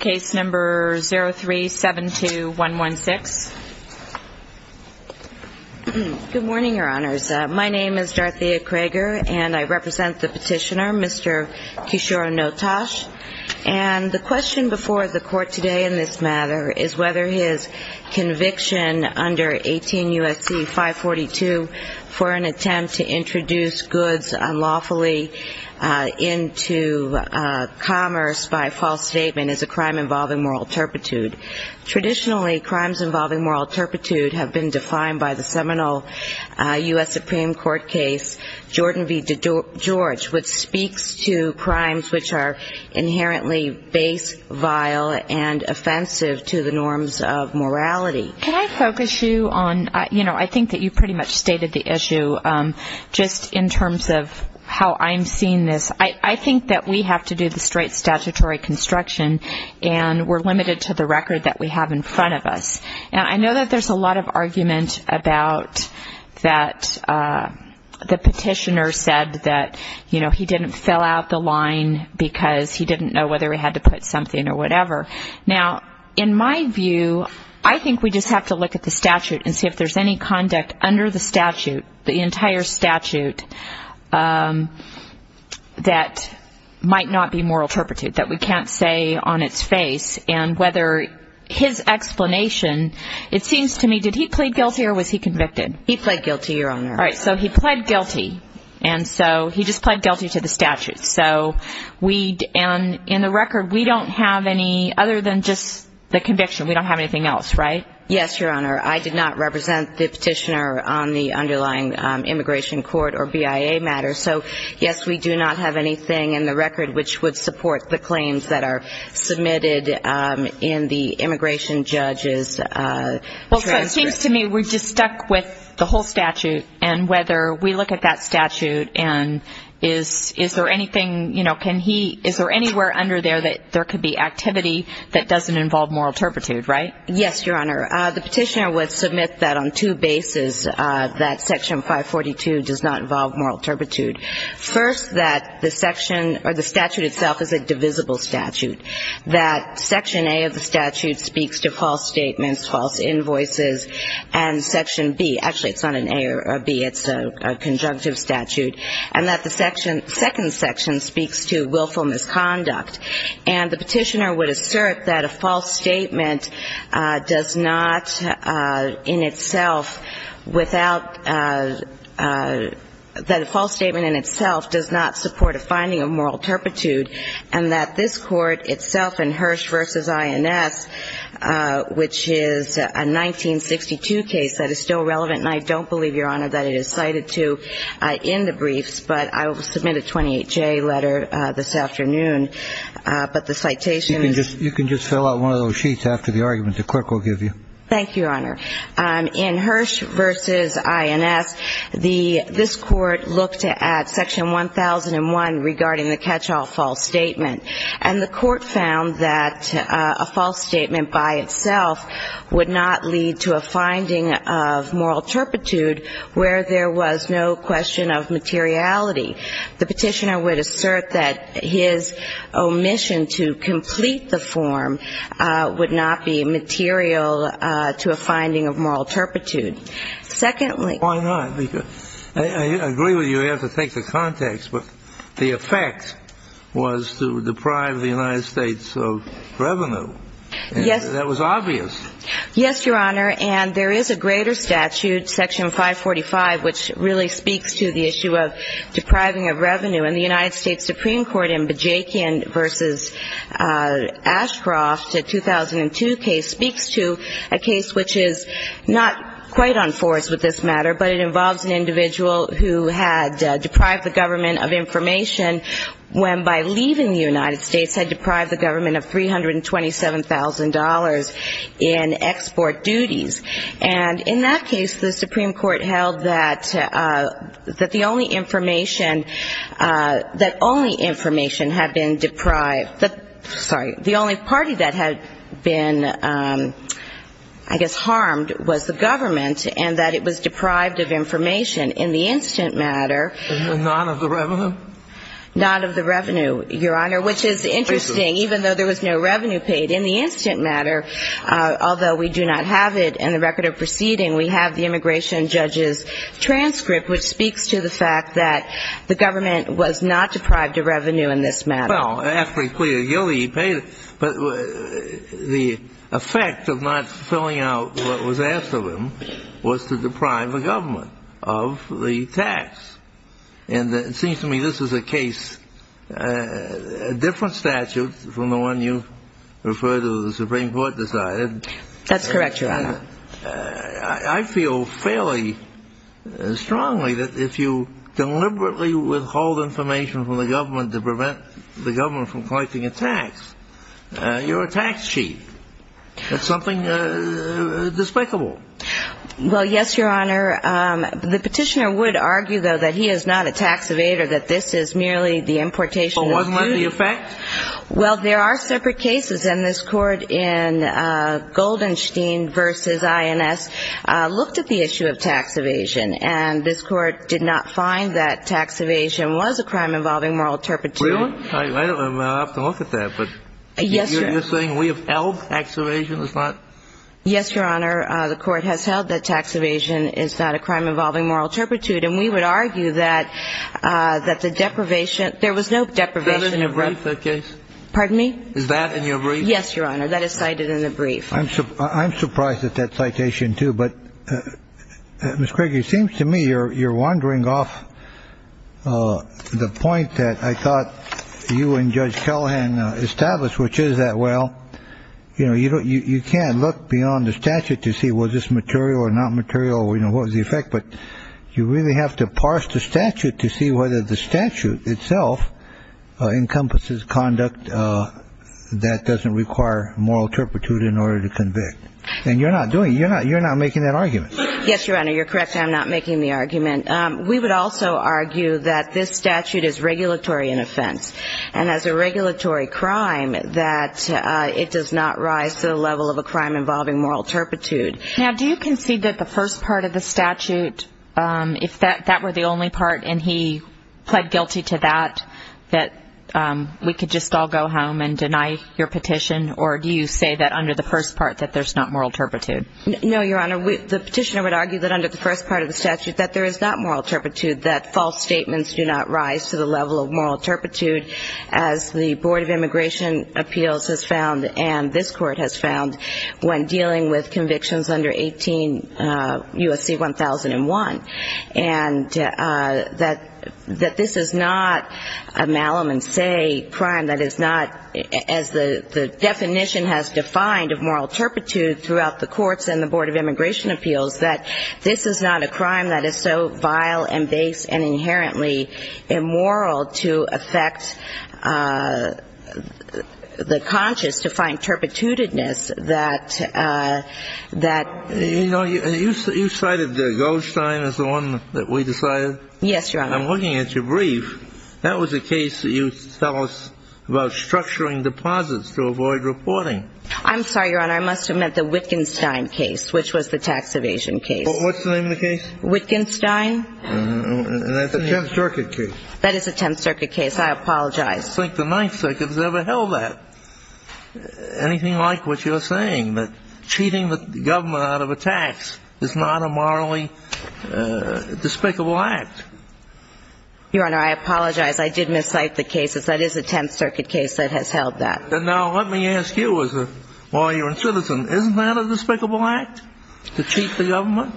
Case number 03-72116. Good morning, Your Honors. My name is Darthea Crager and I represent the petitioner, Mr. Kishore Notash, and the question before the court today in this matter is whether his conviction under 18 U.S.C. 542 for an attempt to introduce goods unlawfully into commerce by false statement is a crime involving moral turpitude. Traditionally, crimes involving moral turpitude have been defined by the seminal U.S. Supreme Court case, Jordan v. DeGeorge, which speaks to crimes which are inherently base, vile, and offensive to the norms of morality. Can I focus you on, you know, I think that you pretty much stated the issue, just in terms of how I'm seeing this. I think that we have to do the straight statutory construction and we're limited to the record that we have in front of us. Now, I know that there's a lot of argument about that the petitioner said that, you know, he didn't fill out the line because he didn't know whether he had to put something or whatever. Now, in my view, I think we just have to look at the statute and see if there's any conduct under the statute, the entire statute, that might not be moral turpitude, that we can't say on its face, and whether his explanation, it seems to me, did he plead guilty or was he convicted? He pled guilty, Your Honor. All right. So he pled guilty. And so he just pled guilty to the statute. So we, and in the record, we don't have any other than just the conviction. We don't have anything else, right? Yes, Your Honor. I did not represent the petitioner on the underlying immigration court or BIA matter. So, yes, we do not have anything in the record which would support the claims that are submitted in the immigration judge's transcript. Well, so it seems to me we're just stuck with the whole statute and whether we look at that statute and is there anything, you know, can he, is there anywhere under there that there could be activity that doesn't involve moral turpitude, right? Yes, Your Honor. The petitioner would submit that on two bases, that Section 542 does not involve moral turpitude. First, that the section, or the statute itself is a divisible statute, that Section A of the statute speaks to false statements, false invoices, and Section B, actually it's not an A or a B, it's a conjunctive statute, and that the section, second section speaks to willful misconduct. And the petitioner would assert that a false statement does not, in itself, without, that a false statement in itself does not support a finding of moral turpitude, and that this court itself in Hirsch v. INS, which is a 1962 case that is still relevant, and I don't believe, Your Honor, that it is in the 28-J letter this afternoon, but the citation is. You can just fill out one of those sheets after the argument. The clerk will give you. Thank you, Your Honor. In Hirsch v. INS, the, this court looked at Section 1001 regarding the catch-all false statement, and the court found that a false statement by itself would not lead to a finding of moral turpitude where there was no question of materiality. The petitioner would assert that his omission to complete the form would not be material to a finding of moral turpitude. Secondly. Why not? Because, I agree with you, you have to take the context, but the effect was to deprive the United States of revenue. Yes. That was obvious. Yes, Your Honor, and there is a greater statute, Section 545, which really speaks to the issue of depriving of revenue, and the United States Supreme Court in Bajekian v. Ashcroft, a 2002 case, speaks to a case which is not quite on force with this matter, but it involves an individual who had deprived the government of information when, by leaving the United States, had deprived the government of $327,000 in export duties. And in that case, the Supreme Court held that the only information, that only information had been deprived, sorry, the only party that had been, I guess, harmed was the government, and that it was deprived of information in the instant matter. And not of the revenue? Not of the revenue, Your Honor, which is interesting, even though there was no revenue paid. In the instant matter, although we do not have it in the record of proceeding, we have the immigration judge's transcript, which speaks to the fact that the government was not deprived of revenue in this matter. Well, after he pleaded guilty, he paid it, but the effect of not filling out what was asked of him was to deprive the government of the tax. And it seems to me this is a case, a case, I don't want to refer to the Supreme Court decided. That's correct, Your Honor. I feel fairly strongly that if you deliberately withhold information from the government to prevent the government from collecting a tax, you're a tax cheat. That's something despicable. Well, yes, Your Honor. The petitioner would argue, though, that he is not a tax evader, that this is merely the importation of the duty. But wasn't that the effect? Well, there are separate cases. And this Court in Goldenstein v. INS looked at the issue of tax evasion. And this Court did not find that tax evasion was a crime involving moral turpitude. I don't know. I'll have to look at that. But you're saying we have held tax evasion is not? Yes, Your Honor. The Court has held that tax evasion is not a crime involving moral turpitude. And we would argue that the deprivation, there was no deprivation. Cited in a brief, that case? Pardon me? Is that in your brief? Yes, Your Honor. That is cited in the brief. I'm surprised at that citation, too. But, Ms. Kruger, it seems to me you're wandering off the point that I thought you and Judge Callahan established, which is that, well, you know, you can't look beyond the statute to see was this material or not material, you know, what was the effect. But you really have to look beyond the statute to see whether the statute itself encompasses conduct that doesn't require moral turpitude in order to convict. And you're not doing it. You're not making that argument. Yes, Your Honor. You're correct. I'm not making the argument. We would also argue that this statute is regulatory an offense. And as a regulatory crime, that it does not rise to the level of a crime involving moral turpitude. Now, do you concede that the first part of the that we could just all go home and deny your petition? Or do you say that under the first part that there's not moral turpitude? No, Your Honor. The petitioner would argue that under the first part of the statute that there is not moral turpitude, that false statements do not rise to the level of moral turpitude, as the Board of Immigration Appeals has found and this Court has found when dealing with convictions under 18 U.S.C. 1001. And that this is not a malum and say crime that is not, as the definition has defined of moral turpitude throughout the courts and the Board of Immigration Appeals, that this is not a crime that is so vile and base and inherently immoral to affect the conscious to find turpitude-ness that, that... You know, you cited Goldstein as the one that we decided. Yes, Your Honor. I'm looking at your brief. That was a case that you tell us about structuring deposits to avoid reporting. I'm sorry, Your Honor. I must have meant the Wittgenstein case, which was the tax evasion case. What's the name of the case? Wittgenstein. And that's a Tenth Circuit case. That is a Tenth Circuit case. I don't think the Ninth Circuit has ever held that. Anything like what you're saying, that cheating the government out of a tax is not a morally despicable act. Your Honor, I apologize. I did miscite the case. That is a Tenth Circuit case that has held that. And now let me ask you as a lawyer and citizen. Isn't that a despicable act, to cheat the government?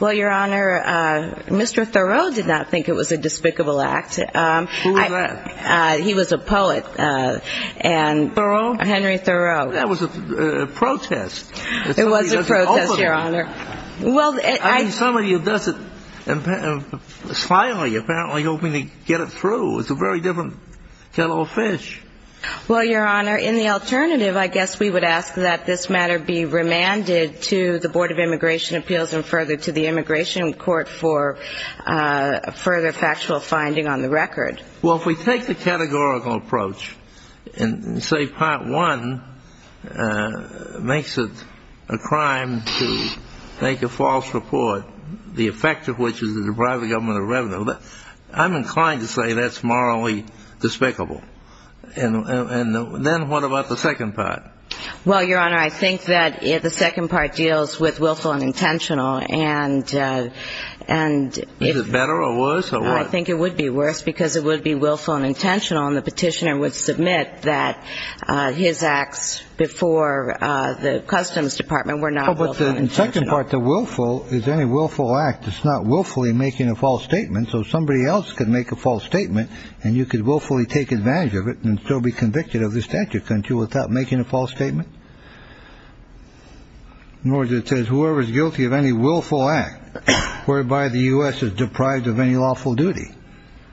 Well, Your Honor, Mr. Thoreau did not think it was a despicable act. Who was that? He was a poet. Thoreau? Henry Thoreau. That was a protest. It was a protest, Your Honor. I mean, somebody does it slyly, apparently, hoping to get it through. It's a very different kettle of fish. Well, Your Honor, in the alternative, I guess we would ask that this matter be remanded to the Board of Immigration Appeals and further to the Immigration Court for further factual finding on the record. Well, if we take the categorical approach and say Part 1 makes it a crime to make a false report, the effect of which is to deprive the government of revenue, I'm inclined to say that's morally despicable. And then what about the second part? Well, Your Honor, I think that the second part would be willful and intentional. Is it better or worse? I think it would be worse, because it would be willful and intentional, and the petitioner would submit that his acts before the Customs Department were not willful and intentional. Well, but the second part, the willful, is any willful act, it's not willfully making a false statement, so somebody else could make a false statement and you could willfully take advantage of it and still be convicted of this statute, couldn't you, without making a false statement? In other words, it says whoever is guilty of any willful act whereby the U.S. is deprived of any lawful duty.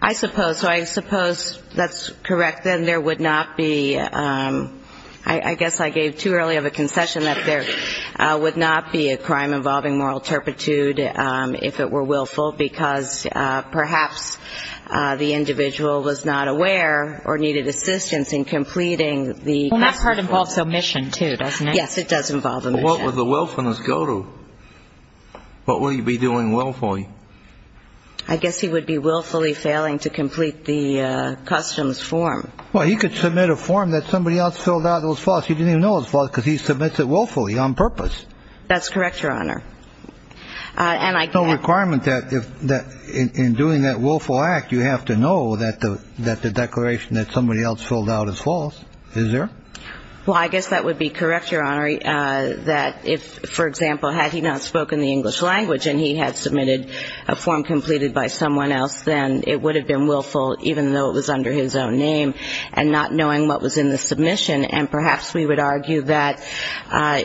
I suppose. So I suppose that's correct. Then there would not be, I guess I gave too early of a concession that there would not be a crime involving moral turpitude if it were willful, because perhaps the individual was not aware of the or needed assistance in completing the Customs form. Well, that part involves omission, too, doesn't it? Yes, it does involve omission. Well, what would the willfulness go to? What would he be doing willfully? I guess he would be willfully failing to complete the Customs form. Well, he could submit a form that somebody else filled out that was false. He didn't even know it was false, because he submits it willfully, on purpose. That's correct, Your Honor. There's no requirement that in doing that willful act, you have to know that the declaration that somebody else filled out is false. Is there? Well, I guess that would be correct, Your Honor, that if, for example, had he not spoken the English language and he had submitted a form completed by someone else, then it would have been willful, even though it was under his own name, and not knowing what was in the submission. And perhaps we would argue that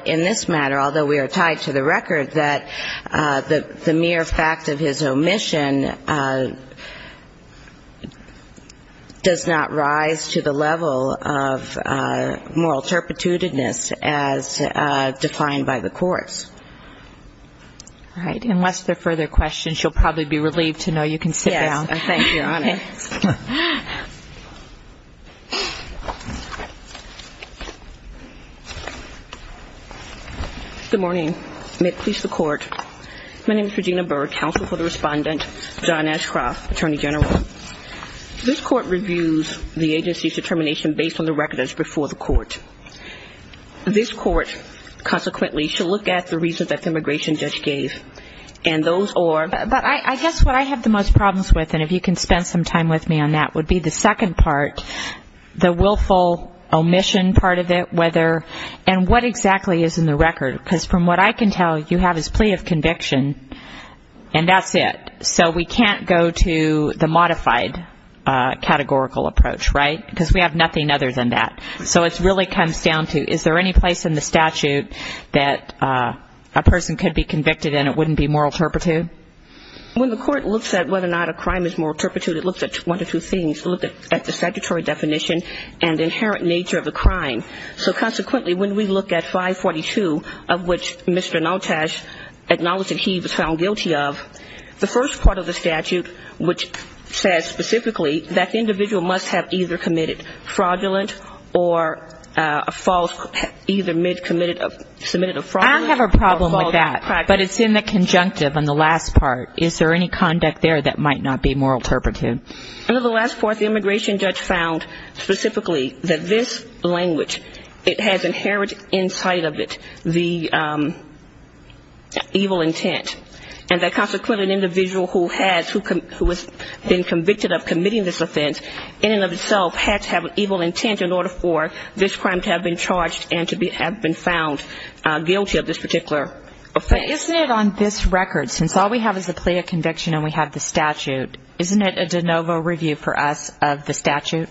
in this matter, although we are tied to the record, that the mere fact of his omission does not rise to the level of moral turpitudinous as defined by the courts. All right. Unless there are further questions, you'll probably be relieved to know you can sit down. Yes. Thank you, Your Honor. Okay. Good morning. May it please the Court. My name is Regina Burr, counsel for the Respondent, John Ashcroft, Attorney General. This Court reviews the agency's determination based on the records before the Court. This Court, consequently, should look at the reasons that the immigration judge gave, and those are... But I guess what I have the most problems with, and if you can spend some time with me on that, would be the second part, the willful omission part of it, whether, and what exactly is in the record. Because from what I can tell, you have his plea of conviction, and that's it. So we can't go to the modified categorical approach, right? Because we have nothing other than that. So it really comes down to, is there any place in the statute that a person could be convicted and it wouldn't be moral turpitude? When the Court looks at whether or not a crime is moral turpitude, it looks at one of two things. It looks at the statutory definition and the inherent nature of the crime. So consequently, when we look at 542, of which Mr. Noltesh acknowledged that he was found guilty of, the first part of the statute, which says specifically that the individual must have either committed fraudulent or false, either mid-committed, submitted a fraudulent or false... I have a problem with that, but it's in the conjunctive on the last part. Is there any conduct there that might not be moral turpitude? Under the last part, the immigration judge found specifically that this language, it has inherited inside of it the evil intent, and that consequently an individual who has been convicted of committing this offense in and of itself had to have an evil intent in order for this crime to have been charged and to have been found guilty of this particular offense. But isn't it on this record, since all we have is the plea of conviction and we have the statute, isn't it a de novo review for us of the statute?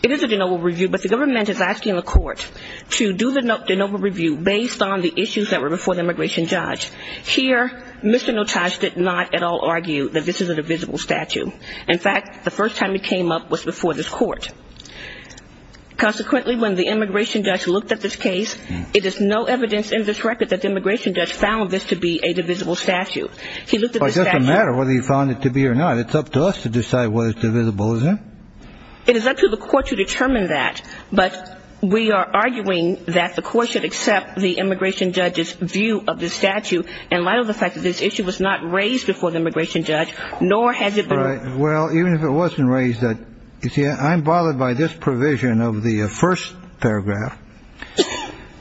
It is a de novo review, but the government is asking the Court to do the de novo review based on the issues that were before the immigration judge. Here, Mr. Noltesh did not at all argue that this is a divisible statute. In fact, the first time it came up was before this court. Consequently, when the immigration judge looked at this case, it is no evidence in this record that the immigration judge found this to be a divisible statute. It doesn't matter whether he found it to be or not. It's up to us to decide whether it's divisible, isn't it? It is up to the Court to determine that, but we are arguing that the Court should accept the immigration judge's view of this statute in light of the fact that this issue was not raised before the immigration judge, nor has it been raised before the immigration judge. Well, even if it wasn't raised, you see, I'm bothered by this provision of the first paragraph,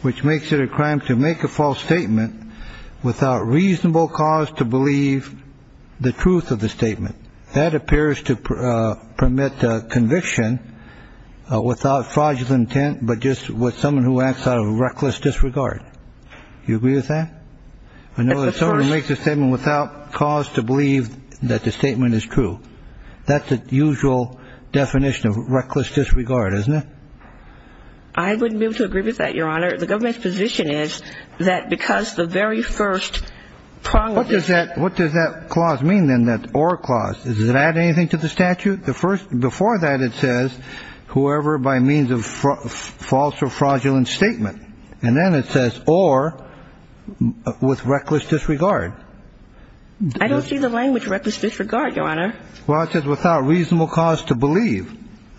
which makes it a crime to make a false statement without reasonable cause to believe the truth of the statement. That appears to permit conviction without fraudulent intent, but just with someone who acts out of reckless disregard. Do you agree with that? I know that someone makes a statement without cause to believe that the statement is true. That's the usual definition of reckless disregard, isn't it? I wouldn't be able to agree with that, Your Honor. The government's position is that because the very first paragraph is What does that clause mean then, that or clause? Does it add anything to the statute? Before that, it says whoever by means of false or fraudulent statement, and then it I don't see the language reckless disregard, Your Honor. Well, it says without reasonable cause to believe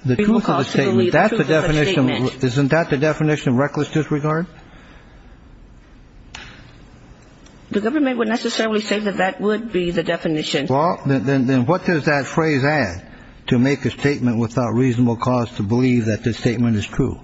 the truth of the statement. That's the definition. Isn't that the definition of reckless disregard? The government would necessarily say that that would be the definition. Well, then what does that phrase add to make a statement without reasonable cause to believe that this statement is true?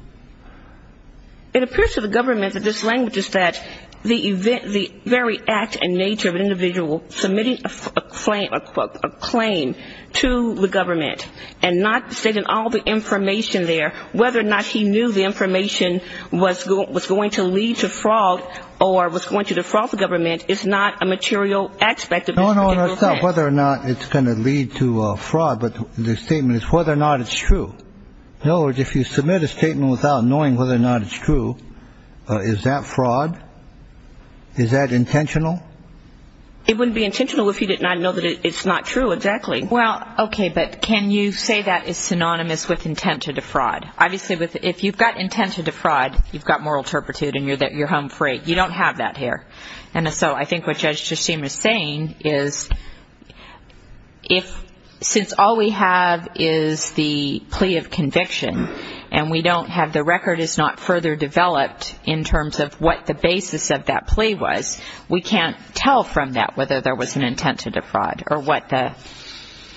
It appears to the government that this language is that the very act and nature of an individual submitting a claim to the government and not stating all the information there, whether or not he knew the information was going to lead to fraud or was going to defraud the government is not a material aspect of this particular case. No, no, it's not whether or not it's going to lead to fraud, but the statement is whether or not it's true. In other words, if you submit a statement without knowing whether or not it's true, is that fraud? Is that intentional? It wouldn't be intentional if you did not know that it's not true, exactly. Well, okay, but can you say that is synonymous with intent to defraud? Obviously, if you've got intent to defraud, you've got moral turpitude and you're home free. You don't have that here. And so I think what Judge Chasim is saying is if since all we have is the plea of conviction and we don't have the record is not further developed in terms of what the basis of that plea was, we can't tell from that whether there was an intent to defraud or what the...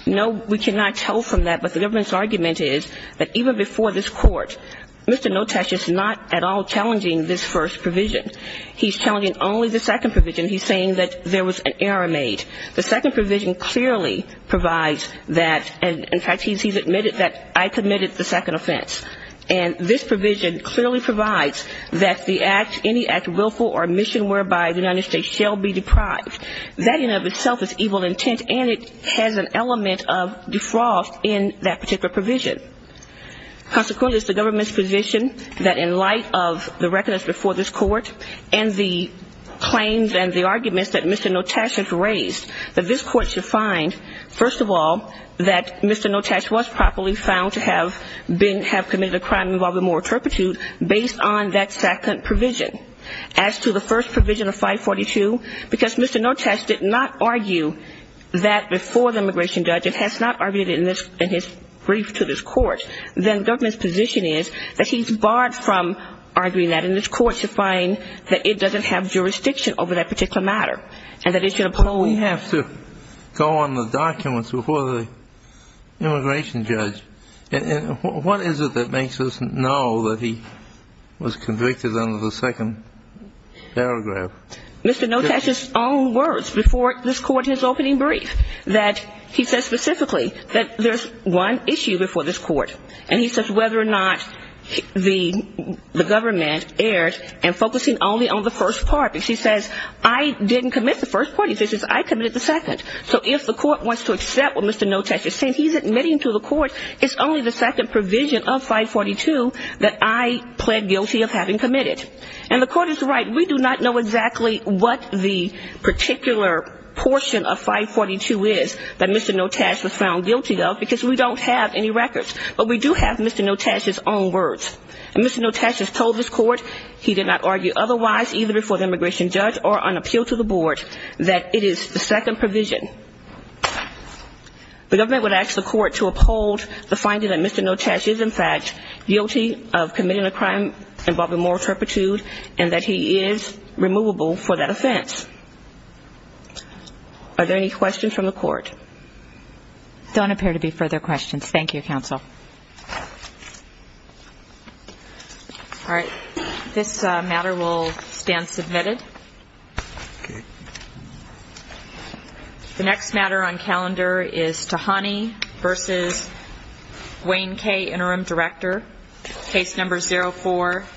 No, we cannot tell from that, but the government's argument is that even before this court, Mr. Notash is not at all challenging this first provision. He's challenging only the second provision. He's saying that there was an error made. The second provision clearly provides that, and in fact, he's admitted that I committed the second offense. And this provision clearly provides that the act, any act willful or mission whereby the United States shall be deprived. That in and of itself is evil intent and it has an element of defraud in that particular provision. Consequently, it's the government's position that in light of the record that was before this court and the claims and the arguments that Mr. Notash has raised, that this court should find, first of all, that Mr. Notash was properly found to have committed a crime involving moral turpitude based on that second provision. As to the first provision of 542, because Mr. Notash did not argue that before the immigration judge and has not argued it in his brief to this court, then government's position is that he's barred from this court to find that it doesn't have jurisdiction over that particular matter and that it should implode. But we have to go on the documents before the immigration judge. And what is it that makes us know that he was convicted under the second paragraph? Mr. Notash's own words before this court in his opening brief, that he says specifically that there's one issue before this court and he says whether or not the government erred and focusing only on the first part. Because he says, I didn't commit the first part. He says, I committed the second. So if the court wants to accept what Mr. Notash is saying, he's admitting to the court it's only the second provision of 542 that I pled guilty of having committed. And the court is right. We do not know exactly what the particular portion of 542 is that Mr. Notash was found guilty of, because we don't have any records. But we do have Mr. Notash's own words. And Mr. Notash has told this court he did not argue otherwise either before the immigration judge or on appeal to the board that it is the second provision. The government would ask the court to uphold the finding that Mr. Notash is, in fact, guilty of committing a crime involving moral turpitude and that he is removable for that offense. Are there any questions from the court? There don't appear to be further questions. Thank you, counsel. All right. This matter will stand submitted. The next matter on calendar is Tahani v. Wayne Kaye, Interim Director, Case No. 04,